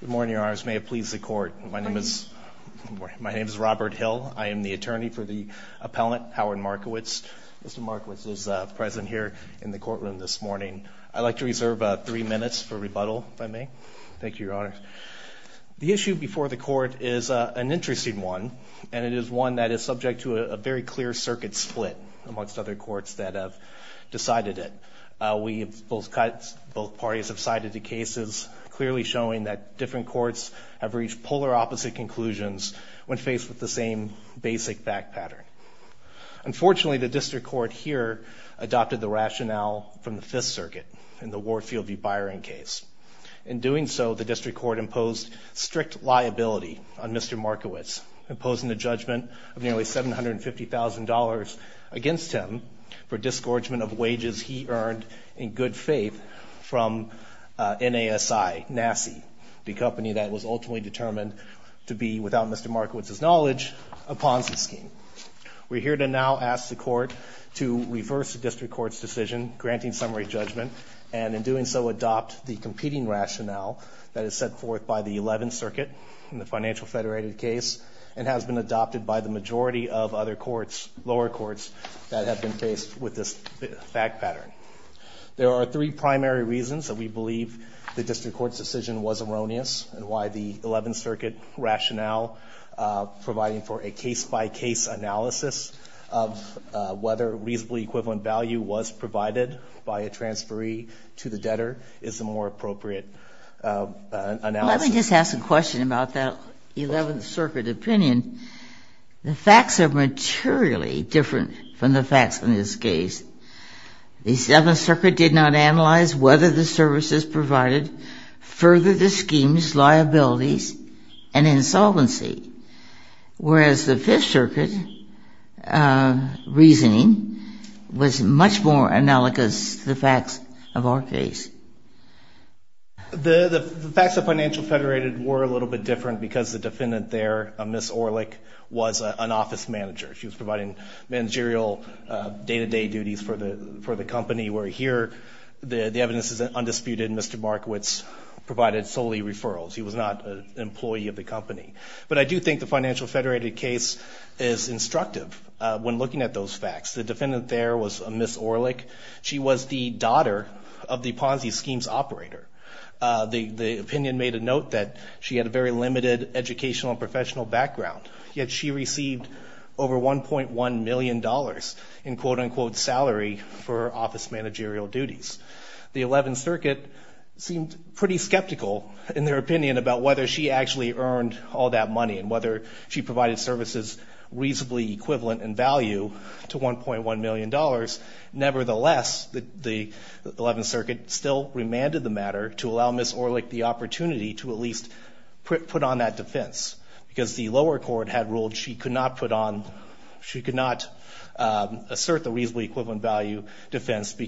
Good morning, your honors. May it please the court. My name is Robert Hill. I am the attorney for the appellant, Howard Markowitz. Mr. Markowitz is present here in the courtroom this morning. I'd like to reserve three minutes for rebuttal, if I may. Thank you, your honors. The issue before the court is an interesting one, and it is one that is subject to a very clear circuit split amongst other courts that have decided it. Both parties have cited the cases clearly showing that different courts have reached polar opposite conclusions when faced with the same basic fact pattern. Unfortunately, the district court here adopted the rationale from the Fifth Circuit in the Wardfield v. Byron case. In doing so, the district court imposed strict liability on Mr. Markowitz, imposing a judgment of nearly $750,000 against him for disgorgement of wages he earned in good faith from NASI, the company that was ultimately determined to be, without Mr. Markowitz's knowledge, a Ponzi scheme. We're here to now ask the court to reverse the district court's decision, granting summary judgment, and in doing so adopt the competing rationale that is set forth by the Eleventh Circuit in the Financial Federated case, and has been adopted by the majority of other courts, lower courts, that have been faced with this fact pattern. There are three primary reasons that we believe the district court's decision was erroneous and why the Eleventh Circuit rationale providing for a case-by-case analysis of whether reasonably equivalent value was provided by a transferee to the debtor is the more appropriate analysis. Well, let me just ask a question about that Eleventh Circuit opinion. The facts are materially different from the facts in this case. The Seventh Circuit did not analyze whether the services provided furthered the scheme's liabilities and insolvency, whereas the Fifth Circuit reasoning was much more analogous to the facts of our case. The facts of Financial Federated were a little bit different because the defendant there, Ms. Orlik, was an office manager. She was providing managerial day-to-day duties for the company, where here the evidence is undisputed. Mr. Markowitz provided solely referrals. He was not an employee of the company. But I do think the Financial Federated case is instructive when looking at those facts. The defendant there was Ms. Orlik. She was the daughter of the Ponzi scheme's operator. The opinion made a note that she had a very limited educational and professional background, yet she received over $1.1 million in quote-unquote salary for office managerial duties. The Eleventh Circuit seemed pretty skeptical in their opinion about whether she actually earned all that money and whether she provided services reasonably equivalent in value to $1.1 million. Nevertheless, the Eleventh Circuit still remanded the matter to allow Ms. Orlik the opportunity to at least put on that defense because the lower court had ruled she could not put on, she could not assert the reasonably equivalent value defense because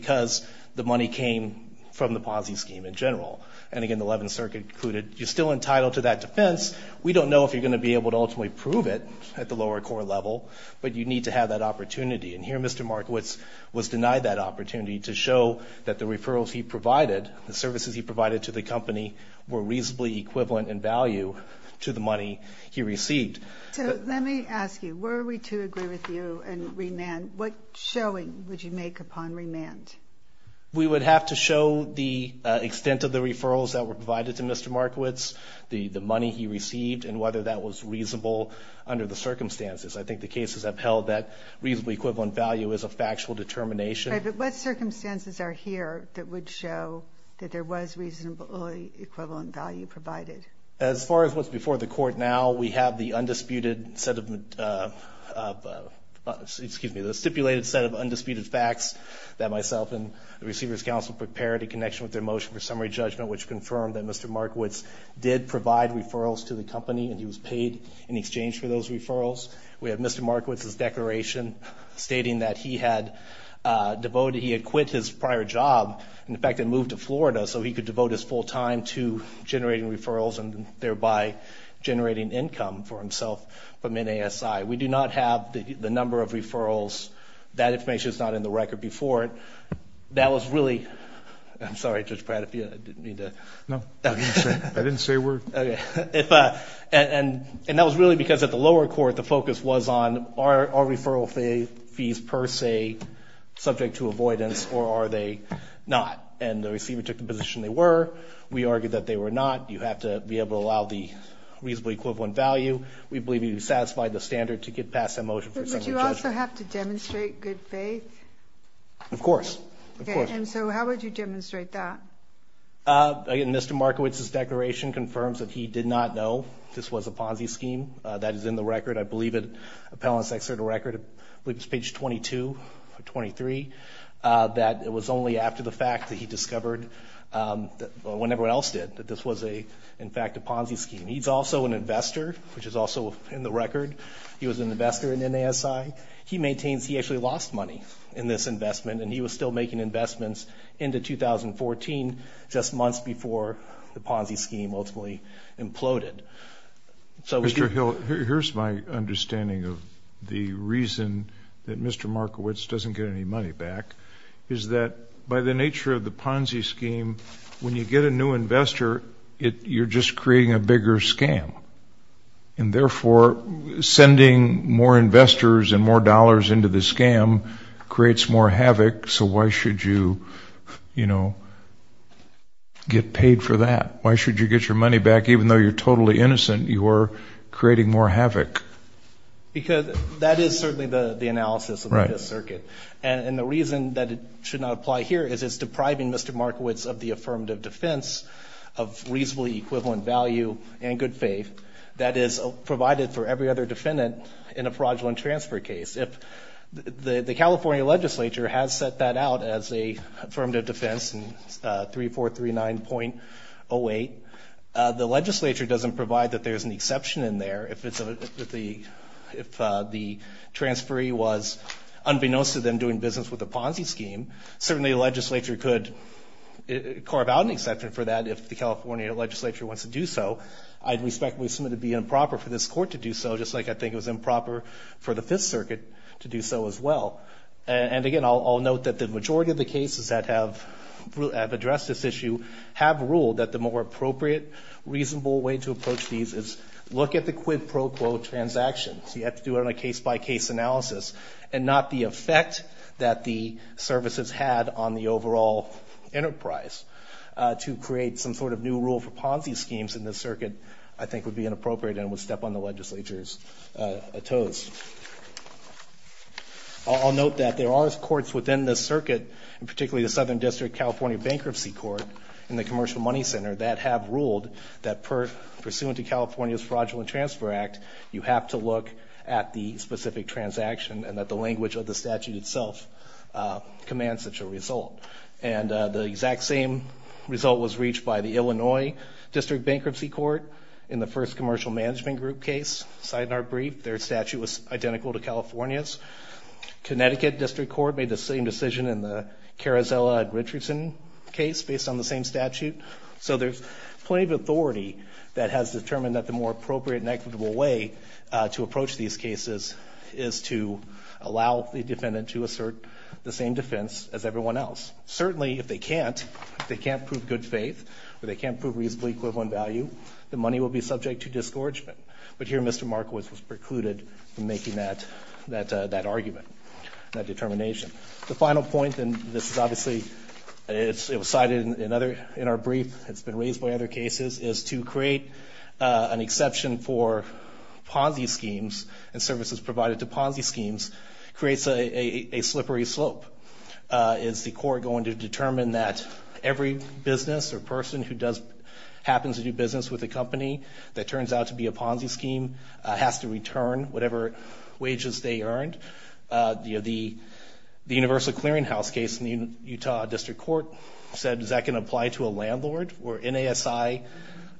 the money was not enough. The money came from the Ponzi scheme in general. And again, the Eleventh Circuit concluded, you're still entitled to that defense. We don't know if you're going to be able to ultimately prove it at the lower court level, but you need to have that opportunity. And here Mr. Markowitz was denied that opportunity to show that the referrals he provided, the services he provided to the company, were reasonably equivalent in value to the money he received. So let me ask you, were we to agree with you and remand, what showing would you make upon remand? We would have to show the extent of the referrals that were provided to Mr. Markowitz, the money he received, and whether that was reasonable under the circumstances. I think the cases have held that reasonably equivalent value is a factual determination. But what circumstances are here that would show that there was reasonably equivalent value provided? As far as what's before the court now, we have the undisputed set of, excuse me, the stipulated set of undisputed facts that myself and the receiver's counsel prepared in connection with their motion for summary judgment, which confirmed that Mr. Markowitz did provide referrals to the company and he was paid in exchange for those referrals. We have Mr. Markowitz's declaration stating that he had devoted, he had quit his prior job and in fact had moved to Florida so he could devote his full time to generating referrals and thereby generating income for himself from NASI. We do not have the number of referrals. That information is not in the record before it. That was really, I'm sorry Judge Pratt if you didn't mean to. No, I didn't say a word. And that was really because at the lower court the focus was on are referral fees per se subject to avoidance or are they not? And the receiver took the position they were. We argued that they were not. You have to be able to allow the reasonably equivalent value. We believe you satisfied the standard to get past that motion for summary judgment. But would you also have to demonstrate good faith? Of course. And so how would you demonstrate that? Again, Mr. Markowitz's declaration confirms that he did not know this was a Ponzi scheme. That is in the record. I believe it's page 22 or 23. That it was only after the fact that he discovered when everyone else did that this was in fact a Ponzi scheme. He's also an investor which is also in the record. He was an investor in NASI. He maintains he actually lost money in this investment and he was still making investments into 2014 just months before the Ponzi scheme ultimately imploded. Mr. Hill, here's my understanding of the reason that Mr. Markowitz doesn't get any money back. Is that by the nature of the Ponzi scheme, when you get a new investor, you're just creating a bigger scam. And therefore, sending more investors and more dollars into the scam creates more havoc. So why should you, you know, get paid for that? Why should you get your money back even though you're totally innocent? You are creating more havoc. Because that is certainly the analysis of this circuit. And the reason that it should not apply here is it's depriving Mr. Markowitz of the affirmative defense of reasonably equivalent value and good faith that is provided for every other defendant in a fraudulent transfer case. The California legislature has set that out as a affirmative defense in 3439.08. The legislature doesn't provide that there's an exception in there. If the transferee was unbeknownst to them doing business with the Ponzi scheme, certainly the legislature could carve out an exception for that if the California legislature wants to do so. I'd respectfully assume it would be improper for this court to do so, just like I think it was improper for the Fifth Circuit to do so as well. And again, I'll note that the majority of the cases that have addressed this issue have ruled that the more appropriate, reasonable way to approach these is look at the quid pro quo transactions. You have to do it on a case-by-case analysis and not the effect that the services had on the overall enterprise. To create some sort of new rule for Ponzi schemes in this circuit I think would be inappropriate and would step on the legislature's toes. I'll note that there are courts within this circuit, and particularly the Southern District California Bankruptcy Court and the Commercial Money Center, that have ruled that pursuant to California's Fraudulent Transfer Act, you have to look at the specific transaction and that the language of the statute itself commands such a result. And the exact same result was reached by the Illinois District Bankruptcy Court in the first Commercial Management Group case, Seidner brief. Their statute was identical to California's. Connecticut District Court made the same decision in the Carozella-Richardson case based on the same statute. So there's plenty of authority that has determined that the more appropriate and equitable way to approach these cases is to allow the defendant to assert the same defense as everyone else. Certainly if they can't, if they can't prove good faith, or they can't prove reasonable equivalent value, the money will be subject to disgorgement. But here Mr. Markowitz was precluded from making that argument, that determination. The final point, and this is obviously, it was cited in our brief, it's been raised by other cases, is to create an exception for Ponzi schemes and services provided to Ponzi schemes creates a slippery slope. Is the court going to determine that every business or person who does, happens to do business with a company that turns out to be a Ponzi scheme has to return whatever wages they earned? The Universal Clearinghouse case in the Utah District Court said, is that going to apply to a landlord where NASI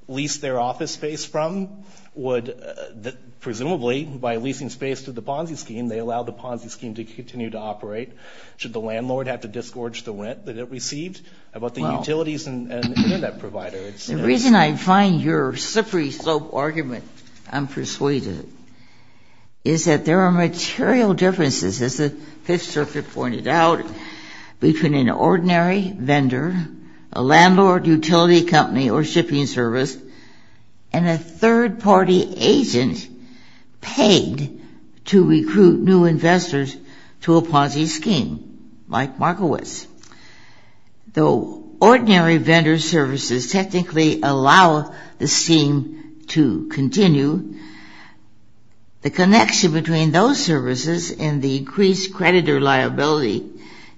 leased their office space from? Would presumably, by leasing space to the Ponzi scheme, they allow the Ponzi scheme to continue to operate? Should the landlord have to disgorge the rent that it received about the utilities and Internet provider? The reason I find your slippery slope argument, I'm persuaded, is that there are material differences, as the Fifth Circuit pointed out, between an ordinary vendor, a landlord, utility company, or shipping service, and a third-party agent paid to recruit new investors to a Ponzi scheme, like Markowitz. Though ordinary vendor services technically allow the scheme to continue, the connection between those services and the increased creditor liability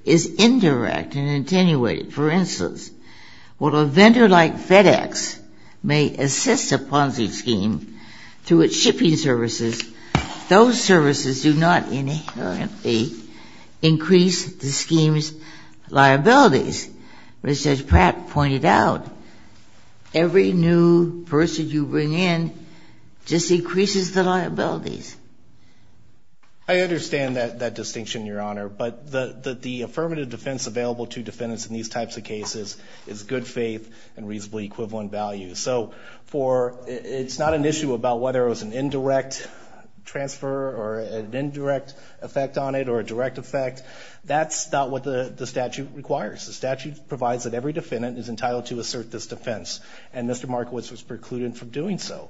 is indirect and attenuated. For instance, while a vendor like FedEx may assist a Ponzi scheme through its shipping services, those services do not inherently increase the scheme's liabilities. As Judge Pratt pointed out, every new person you bring in just increases the liabilities. I understand that distinction, Your Honor, but the affirmative defense available to defendants in these types of cases is good faith and reasonably equivalent value. So it's not an issue about whether it was an indirect transfer or an indirect effect on it or a direct effect. That's not what the statute requires. The statute provides that every defendant is entitled to assert this defense, and Mr. Markowitz was precluded from doing so.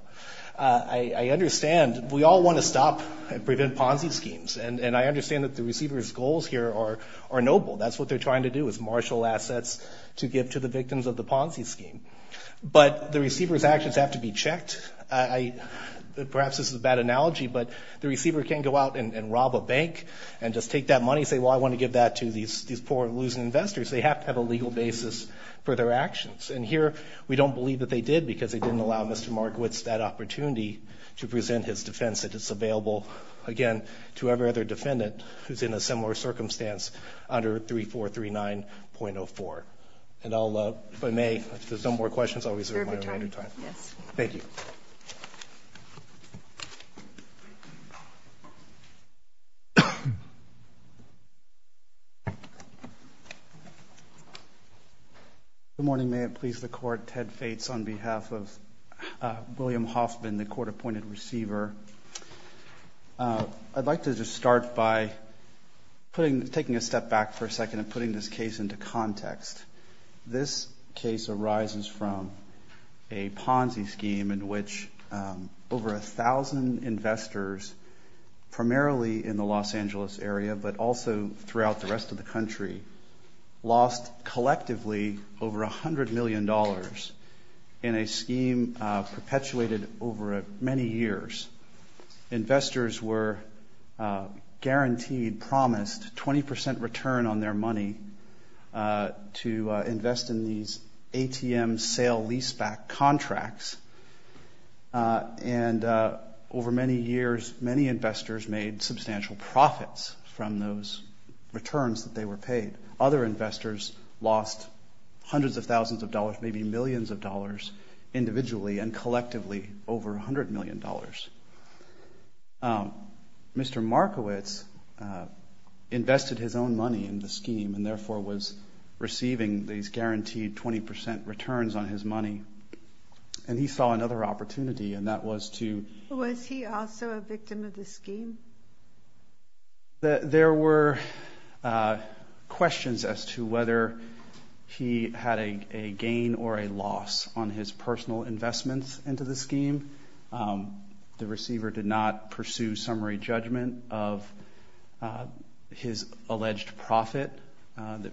I understand we all want to stop and prevent Ponzi schemes, and I understand that the receiver's goals here are noble. That's what they're trying to do, is marshal assets to give to the victims of the Ponzi scheme. But the receiver's actions have to be checked. Perhaps this is a bad analogy, but the receiver can't go out and rob a bank and just take that money and say, well, I want to give that to these poor, losing investors. They have to have a legal basis for their actions. And here we don't believe that they did because they didn't allow Mr. Markowitz that opportunity to present his defense that is available, again, to every other defendant who's in a similar circumstance under 3439.04. And if I may, if there's no more questions, I'll reserve my remaining time. Thank you. Good morning. May it please the Court. Ted Fates on behalf of William Hoffman, the court-appointed receiver. I'd like to just start by taking a step back for a second and putting this case into context. This case arises from a Ponzi scheme in which over 1,000 investors, primarily in the Los Angeles area, but also throughout the rest of the country, lost collectively over $100 million in a scheme perpetuated over many years. Investors were guaranteed, promised 20 percent return on their money to invest in these ATM sale leaseback contracts. And over many years, many investors made substantial profits from those returns that they were paid. Other investors lost hundreds of thousands of dollars, maybe millions of dollars individually and collectively over $100 million. Mr. Markowitz invested his own money in the scheme and therefore was receiving these guaranteed 20 percent returns on his money. And he saw another opportunity, and that was to... Was he also a victim of the scheme? There were questions as to whether he had a gain or a loss on his personal investments into the scheme. The receiver did not pursue summary judgment of his alleged profit. They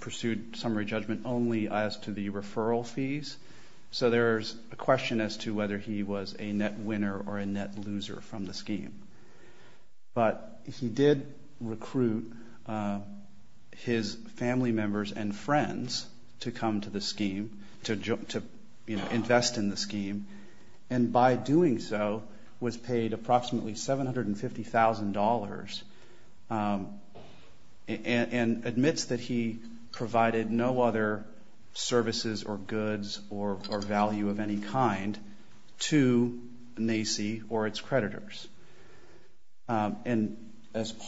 pursued summary judgment only as to the referral fees. So there's a question as to whether he was a net winner or a net loser from the scheme. But he did recruit his family members and friends to come to the scheme, to invest in the scheme. And by doing so, was paid approximately $750,000 and admits that he provided no other services or goods or value of any kind to NACI or its creditors. And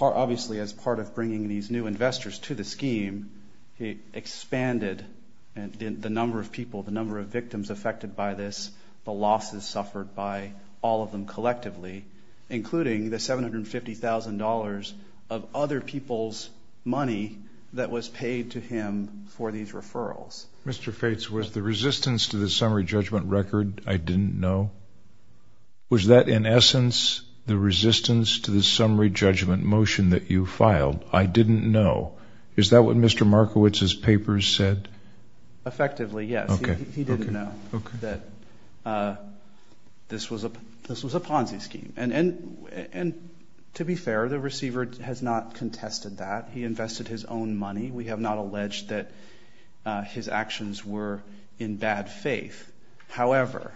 obviously as part of bringing these new investors to the scheme, he expanded the number of people, the number of victims affected by this, the losses suffered by all of them collectively, including the $750,000 of other people's money that was paid to him for these referrals. Mr. Fates, was the resistance to the summary judgment record, I didn't know? Was that in essence the resistance to the summary judgment motion that you filed, I didn't know? Is that what Mr. Markowitz's papers said? Effectively, yes. He didn't know that this was a Ponzi scheme. And to be fair, the receiver has not contested that. He invested his own money. We have not alleged that his actions were in bad faith. However,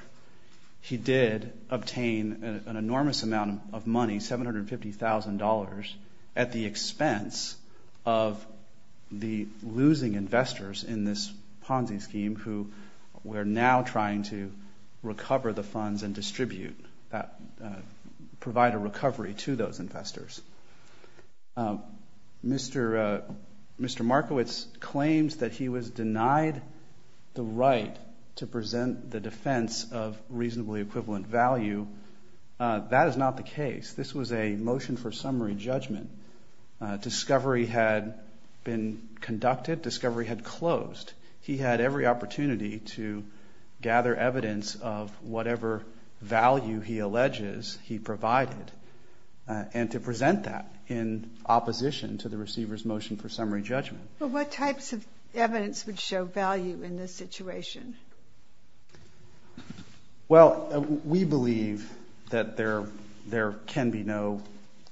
he did obtain an enormous amount of money, $750,000 at the expense of the losing investors in this Ponzi scheme who were now trying to recover the funds and distribute, provide a recovery to those investors. Mr. Markowitz claims that he was denied the right to present the defense of reasonably equivalent value. That is not the case. This was a motion for summary judgment. Discovery had been conducted. Discovery had closed. He had every opportunity to gather evidence of whatever value he alleges he provided and to present that in opposition to the receiver's motion for summary judgment. But what types of evidence would show value in this situation? Well, we believe that there can be no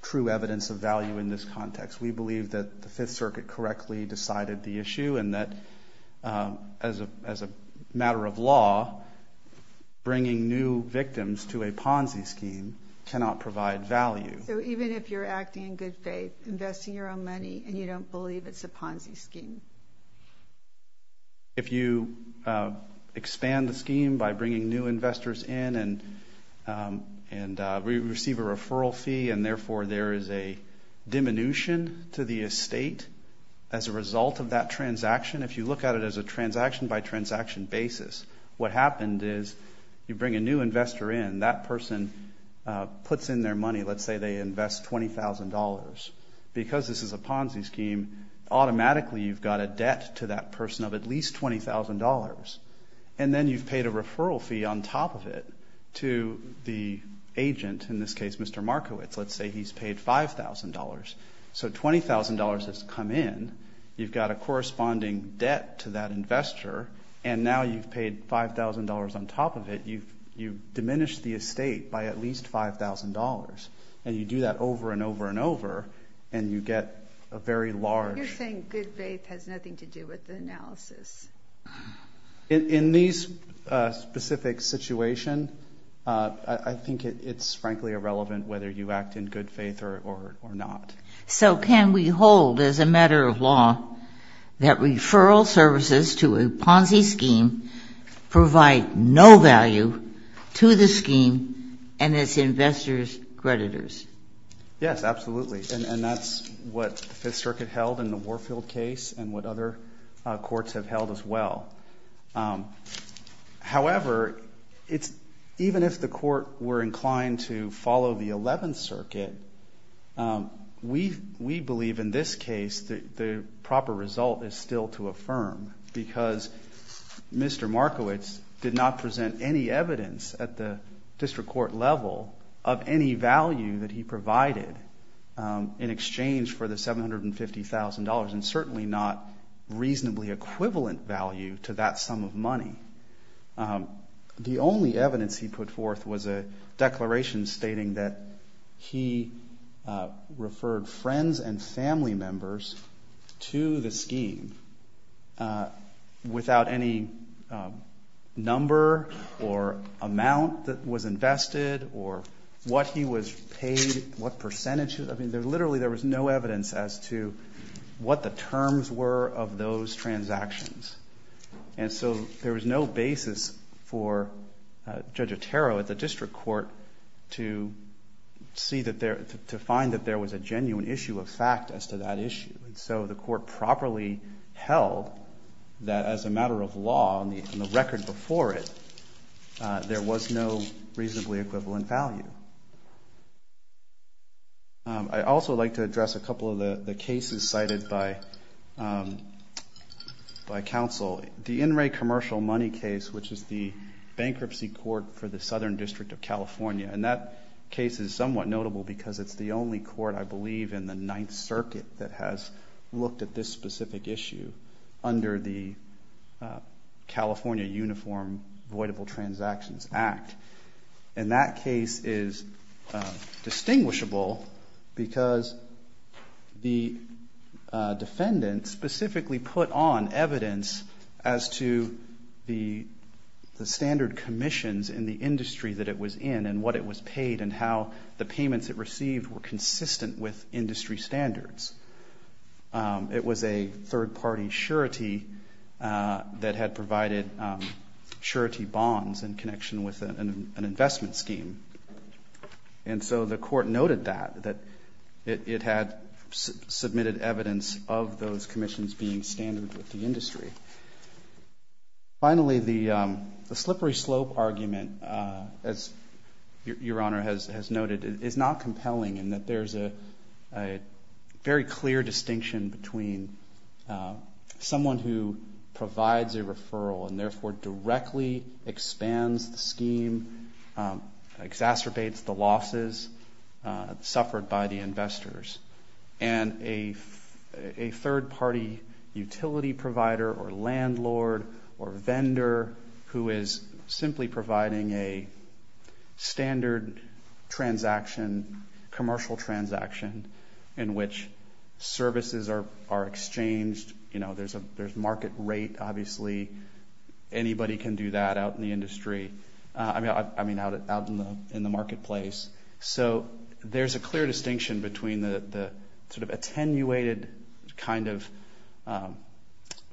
true evidence of value in this context. We believe that the Fifth Circuit correctly decided the issue and that as a matter of law, bringing new victims to a Ponzi scheme cannot provide value. So even if you're acting in good faith, investing your own money, and you don't believe it's a Ponzi scheme? If you expand the scheme by bringing new investors in and receive a referral fee and therefore there is a diminution to the estate as a result of that transaction, if you look at it as a transaction-by-transaction basis, what happened is you bring a new investor in. That person puts in their money. Let's say they invest $20,000. Because this is a Ponzi scheme, automatically you've got a debt to that person of at least $20,000. And then you've paid a referral fee on top of it to the agent, in this case Mr. Markowitz. Let's say he's paid $5,000. So $20,000 has come in. You've got a corresponding debt to that investor, and now you've paid $5,000 on top of it. You've diminished the estate by at least $5,000. And you do that over and over and over, and you get a very large... You're saying good faith has nothing to do with the analysis. In this specific situation, I think it's frankly irrelevant whether you act in good faith or not. So can we hold as a matter of law that referral services to a Ponzi scheme provide no value to the scheme and its investors' creditors? Yes, absolutely. And that's what the Fifth Circuit held in the Warfield case and what other courts have held as well. However, even if the court were inclined to follow the Eleventh Circuit, we believe in this case the proper result is still to affirm. Because Mr. Markowitz did not present any evidence at the district court level of any value that he provided in exchange for the $750,000, and certainly not reasonably equivalent value to that sum of money. The only evidence he put forth was a declaration stating that he referred friends and family members to the scheme. Without any number or amount that was invested, or what he was paid, what percentage... I mean, literally there was no evidence as to what the terms were of those transactions. And so there was no basis for Judge Otero at the district court to find that there was a genuine issue of fact as to that issue. And so the court properly held that as a matter of law, on the record before it, there was no reasonably equivalent value. I'd also like to address a couple of the cases cited by counsel. The In Re Commercial Money case, which is the bankruptcy court for the Southern District of California. And that case is somewhat notable because it's the only court, I believe, in the Ninth Circuit that has looked at this specific issue under the California Uniform Voidable Transactions Act. And that case is distinguishable because the defendant specifically put on evidence as to the standard commissions in the industry that it was in and what it was paid and how the payments it received were consistent with industry standards. It was a third-party surety that had provided surety bonds in connection with an investment scheme. And so the court noted that, that it had submitted evidence of those commissions being standard with the industry. Finally, the slippery slope argument, as Your Honor has noted, is not compelling in that there's a very clear distinction between someone who provides a referral and therefore directly expands the scheme, exacerbates the losses suffered by the investors, and a third-party utility provider or landlord or vendor who is simply providing a standard commercial transaction in which services are exchanged. There's market rate, obviously. Anybody can do that out in the industry, I mean, out in the marketplace. So there's a clear distinction between the sort of attenuated kind of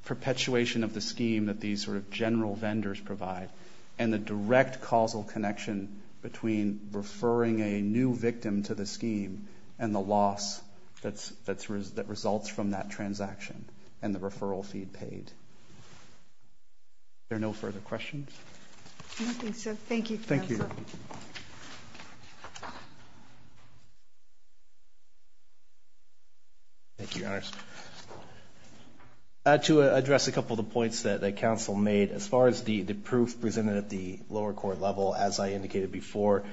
perpetuation of the scheme that these sort of general vendors provide and the direct causal connection between referring a new victim to the scheme and the loss that results from that transaction and the referral fee paid. Are there no further questions? I don't think so. Thank you. Thank you, Your Honor. To address a couple of the points that counsel made, as far as the proof presented at the lower court level, as I indicated before,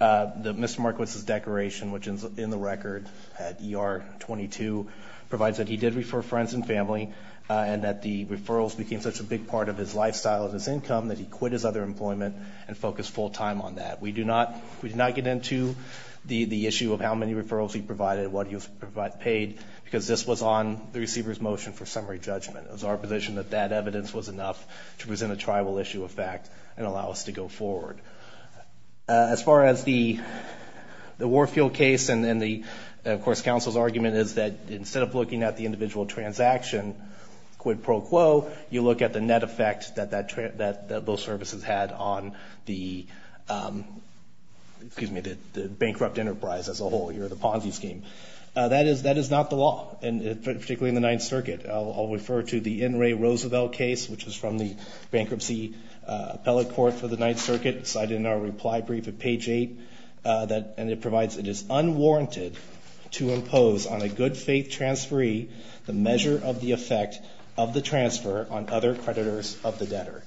Mr. Markowitz's declaration, which is in the record at ER 22, provides that he did refer friends and family and that the referrals became such a big part of his lifestyle and his income that he quit his other employment and focused full-time on that. We do not get into the issue of how many referrals he provided, what he paid, because this was on the receiver's motion for summary judgment. It was our position that that evidence was enough to present a tribal issue of fact and allow us to go forward. As far as the Warfield case and, of course, counsel's argument is that instead of looking at the individual transaction quid pro quo, you look at the net effect that those services had on the, excuse me, the bankrupt enterprise as a whole here, the Ponzi scheme. That is not the law, particularly in the Ninth Circuit. I'll refer to the N. Ray Roosevelt case, which is from the Bankruptcy Appellate Court for the Ninth Circuit, cited in our reply brief at page 8, and it provides it is unwarranted to impose on a good-faith transferee the measure of the effect of the transfer on other creditors of the debtor.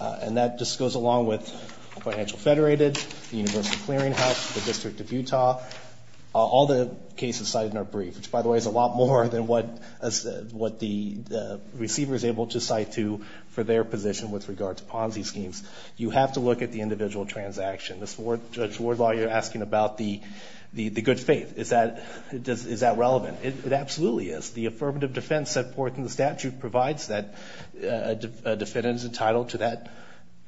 And that just goes along with Financial Federated, the Universal Clearinghouse, the District of Utah, all the cases cited in our brief, which, by the way, is a lot more than what the receiver is able to cite to for their position with regard to Ponzi schemes. You have to look at the individual transaction. Judge Wardlaw, you're asking about the good faith. Is that relevant? It absolutely is. The affirmative defense set forth in the statute provides that a defendant is entitled to that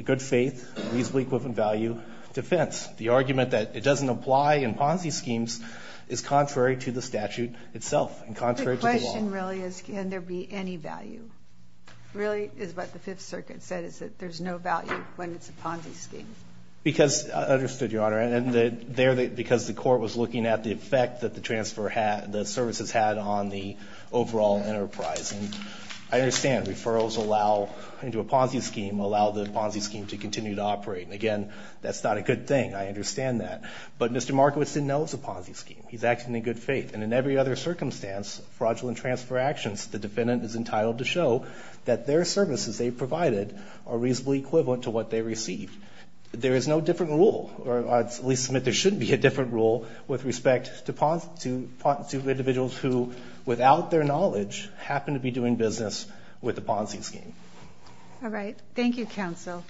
good-faith, reasonably equivalent value defense. The argument that it doesn't apply in Ponzi schemes is contrary to the statute itself and contrary to the law. The question really is can there be any value. Really is what the Fifth Circuit said, is that there's no value when it's a Ponzi scheme. Because, understood, Your Honor, and there, because the court was looking at the effect that the transfer had, the services had on the overall enterprise. And I understand referrals allow, into a Ponzi scheme, allow the Ponzi scheme to continue to operate. And again, that's not a good thing. I understand that. But Mr. Markowitz didn't know it was a Ponzi scheme. He's acting in good faith. And in every other circumstance, fraudulent transfer actions, the defendant is entitled to show that their services they provided are reasonably equivalent to what they received. There is no different rule, or at least there shouldn't be a different rule, with respect to individuals who, without their knowledge, happen to be doing business with a Ponzi scheme. All right. Thank you, counsel.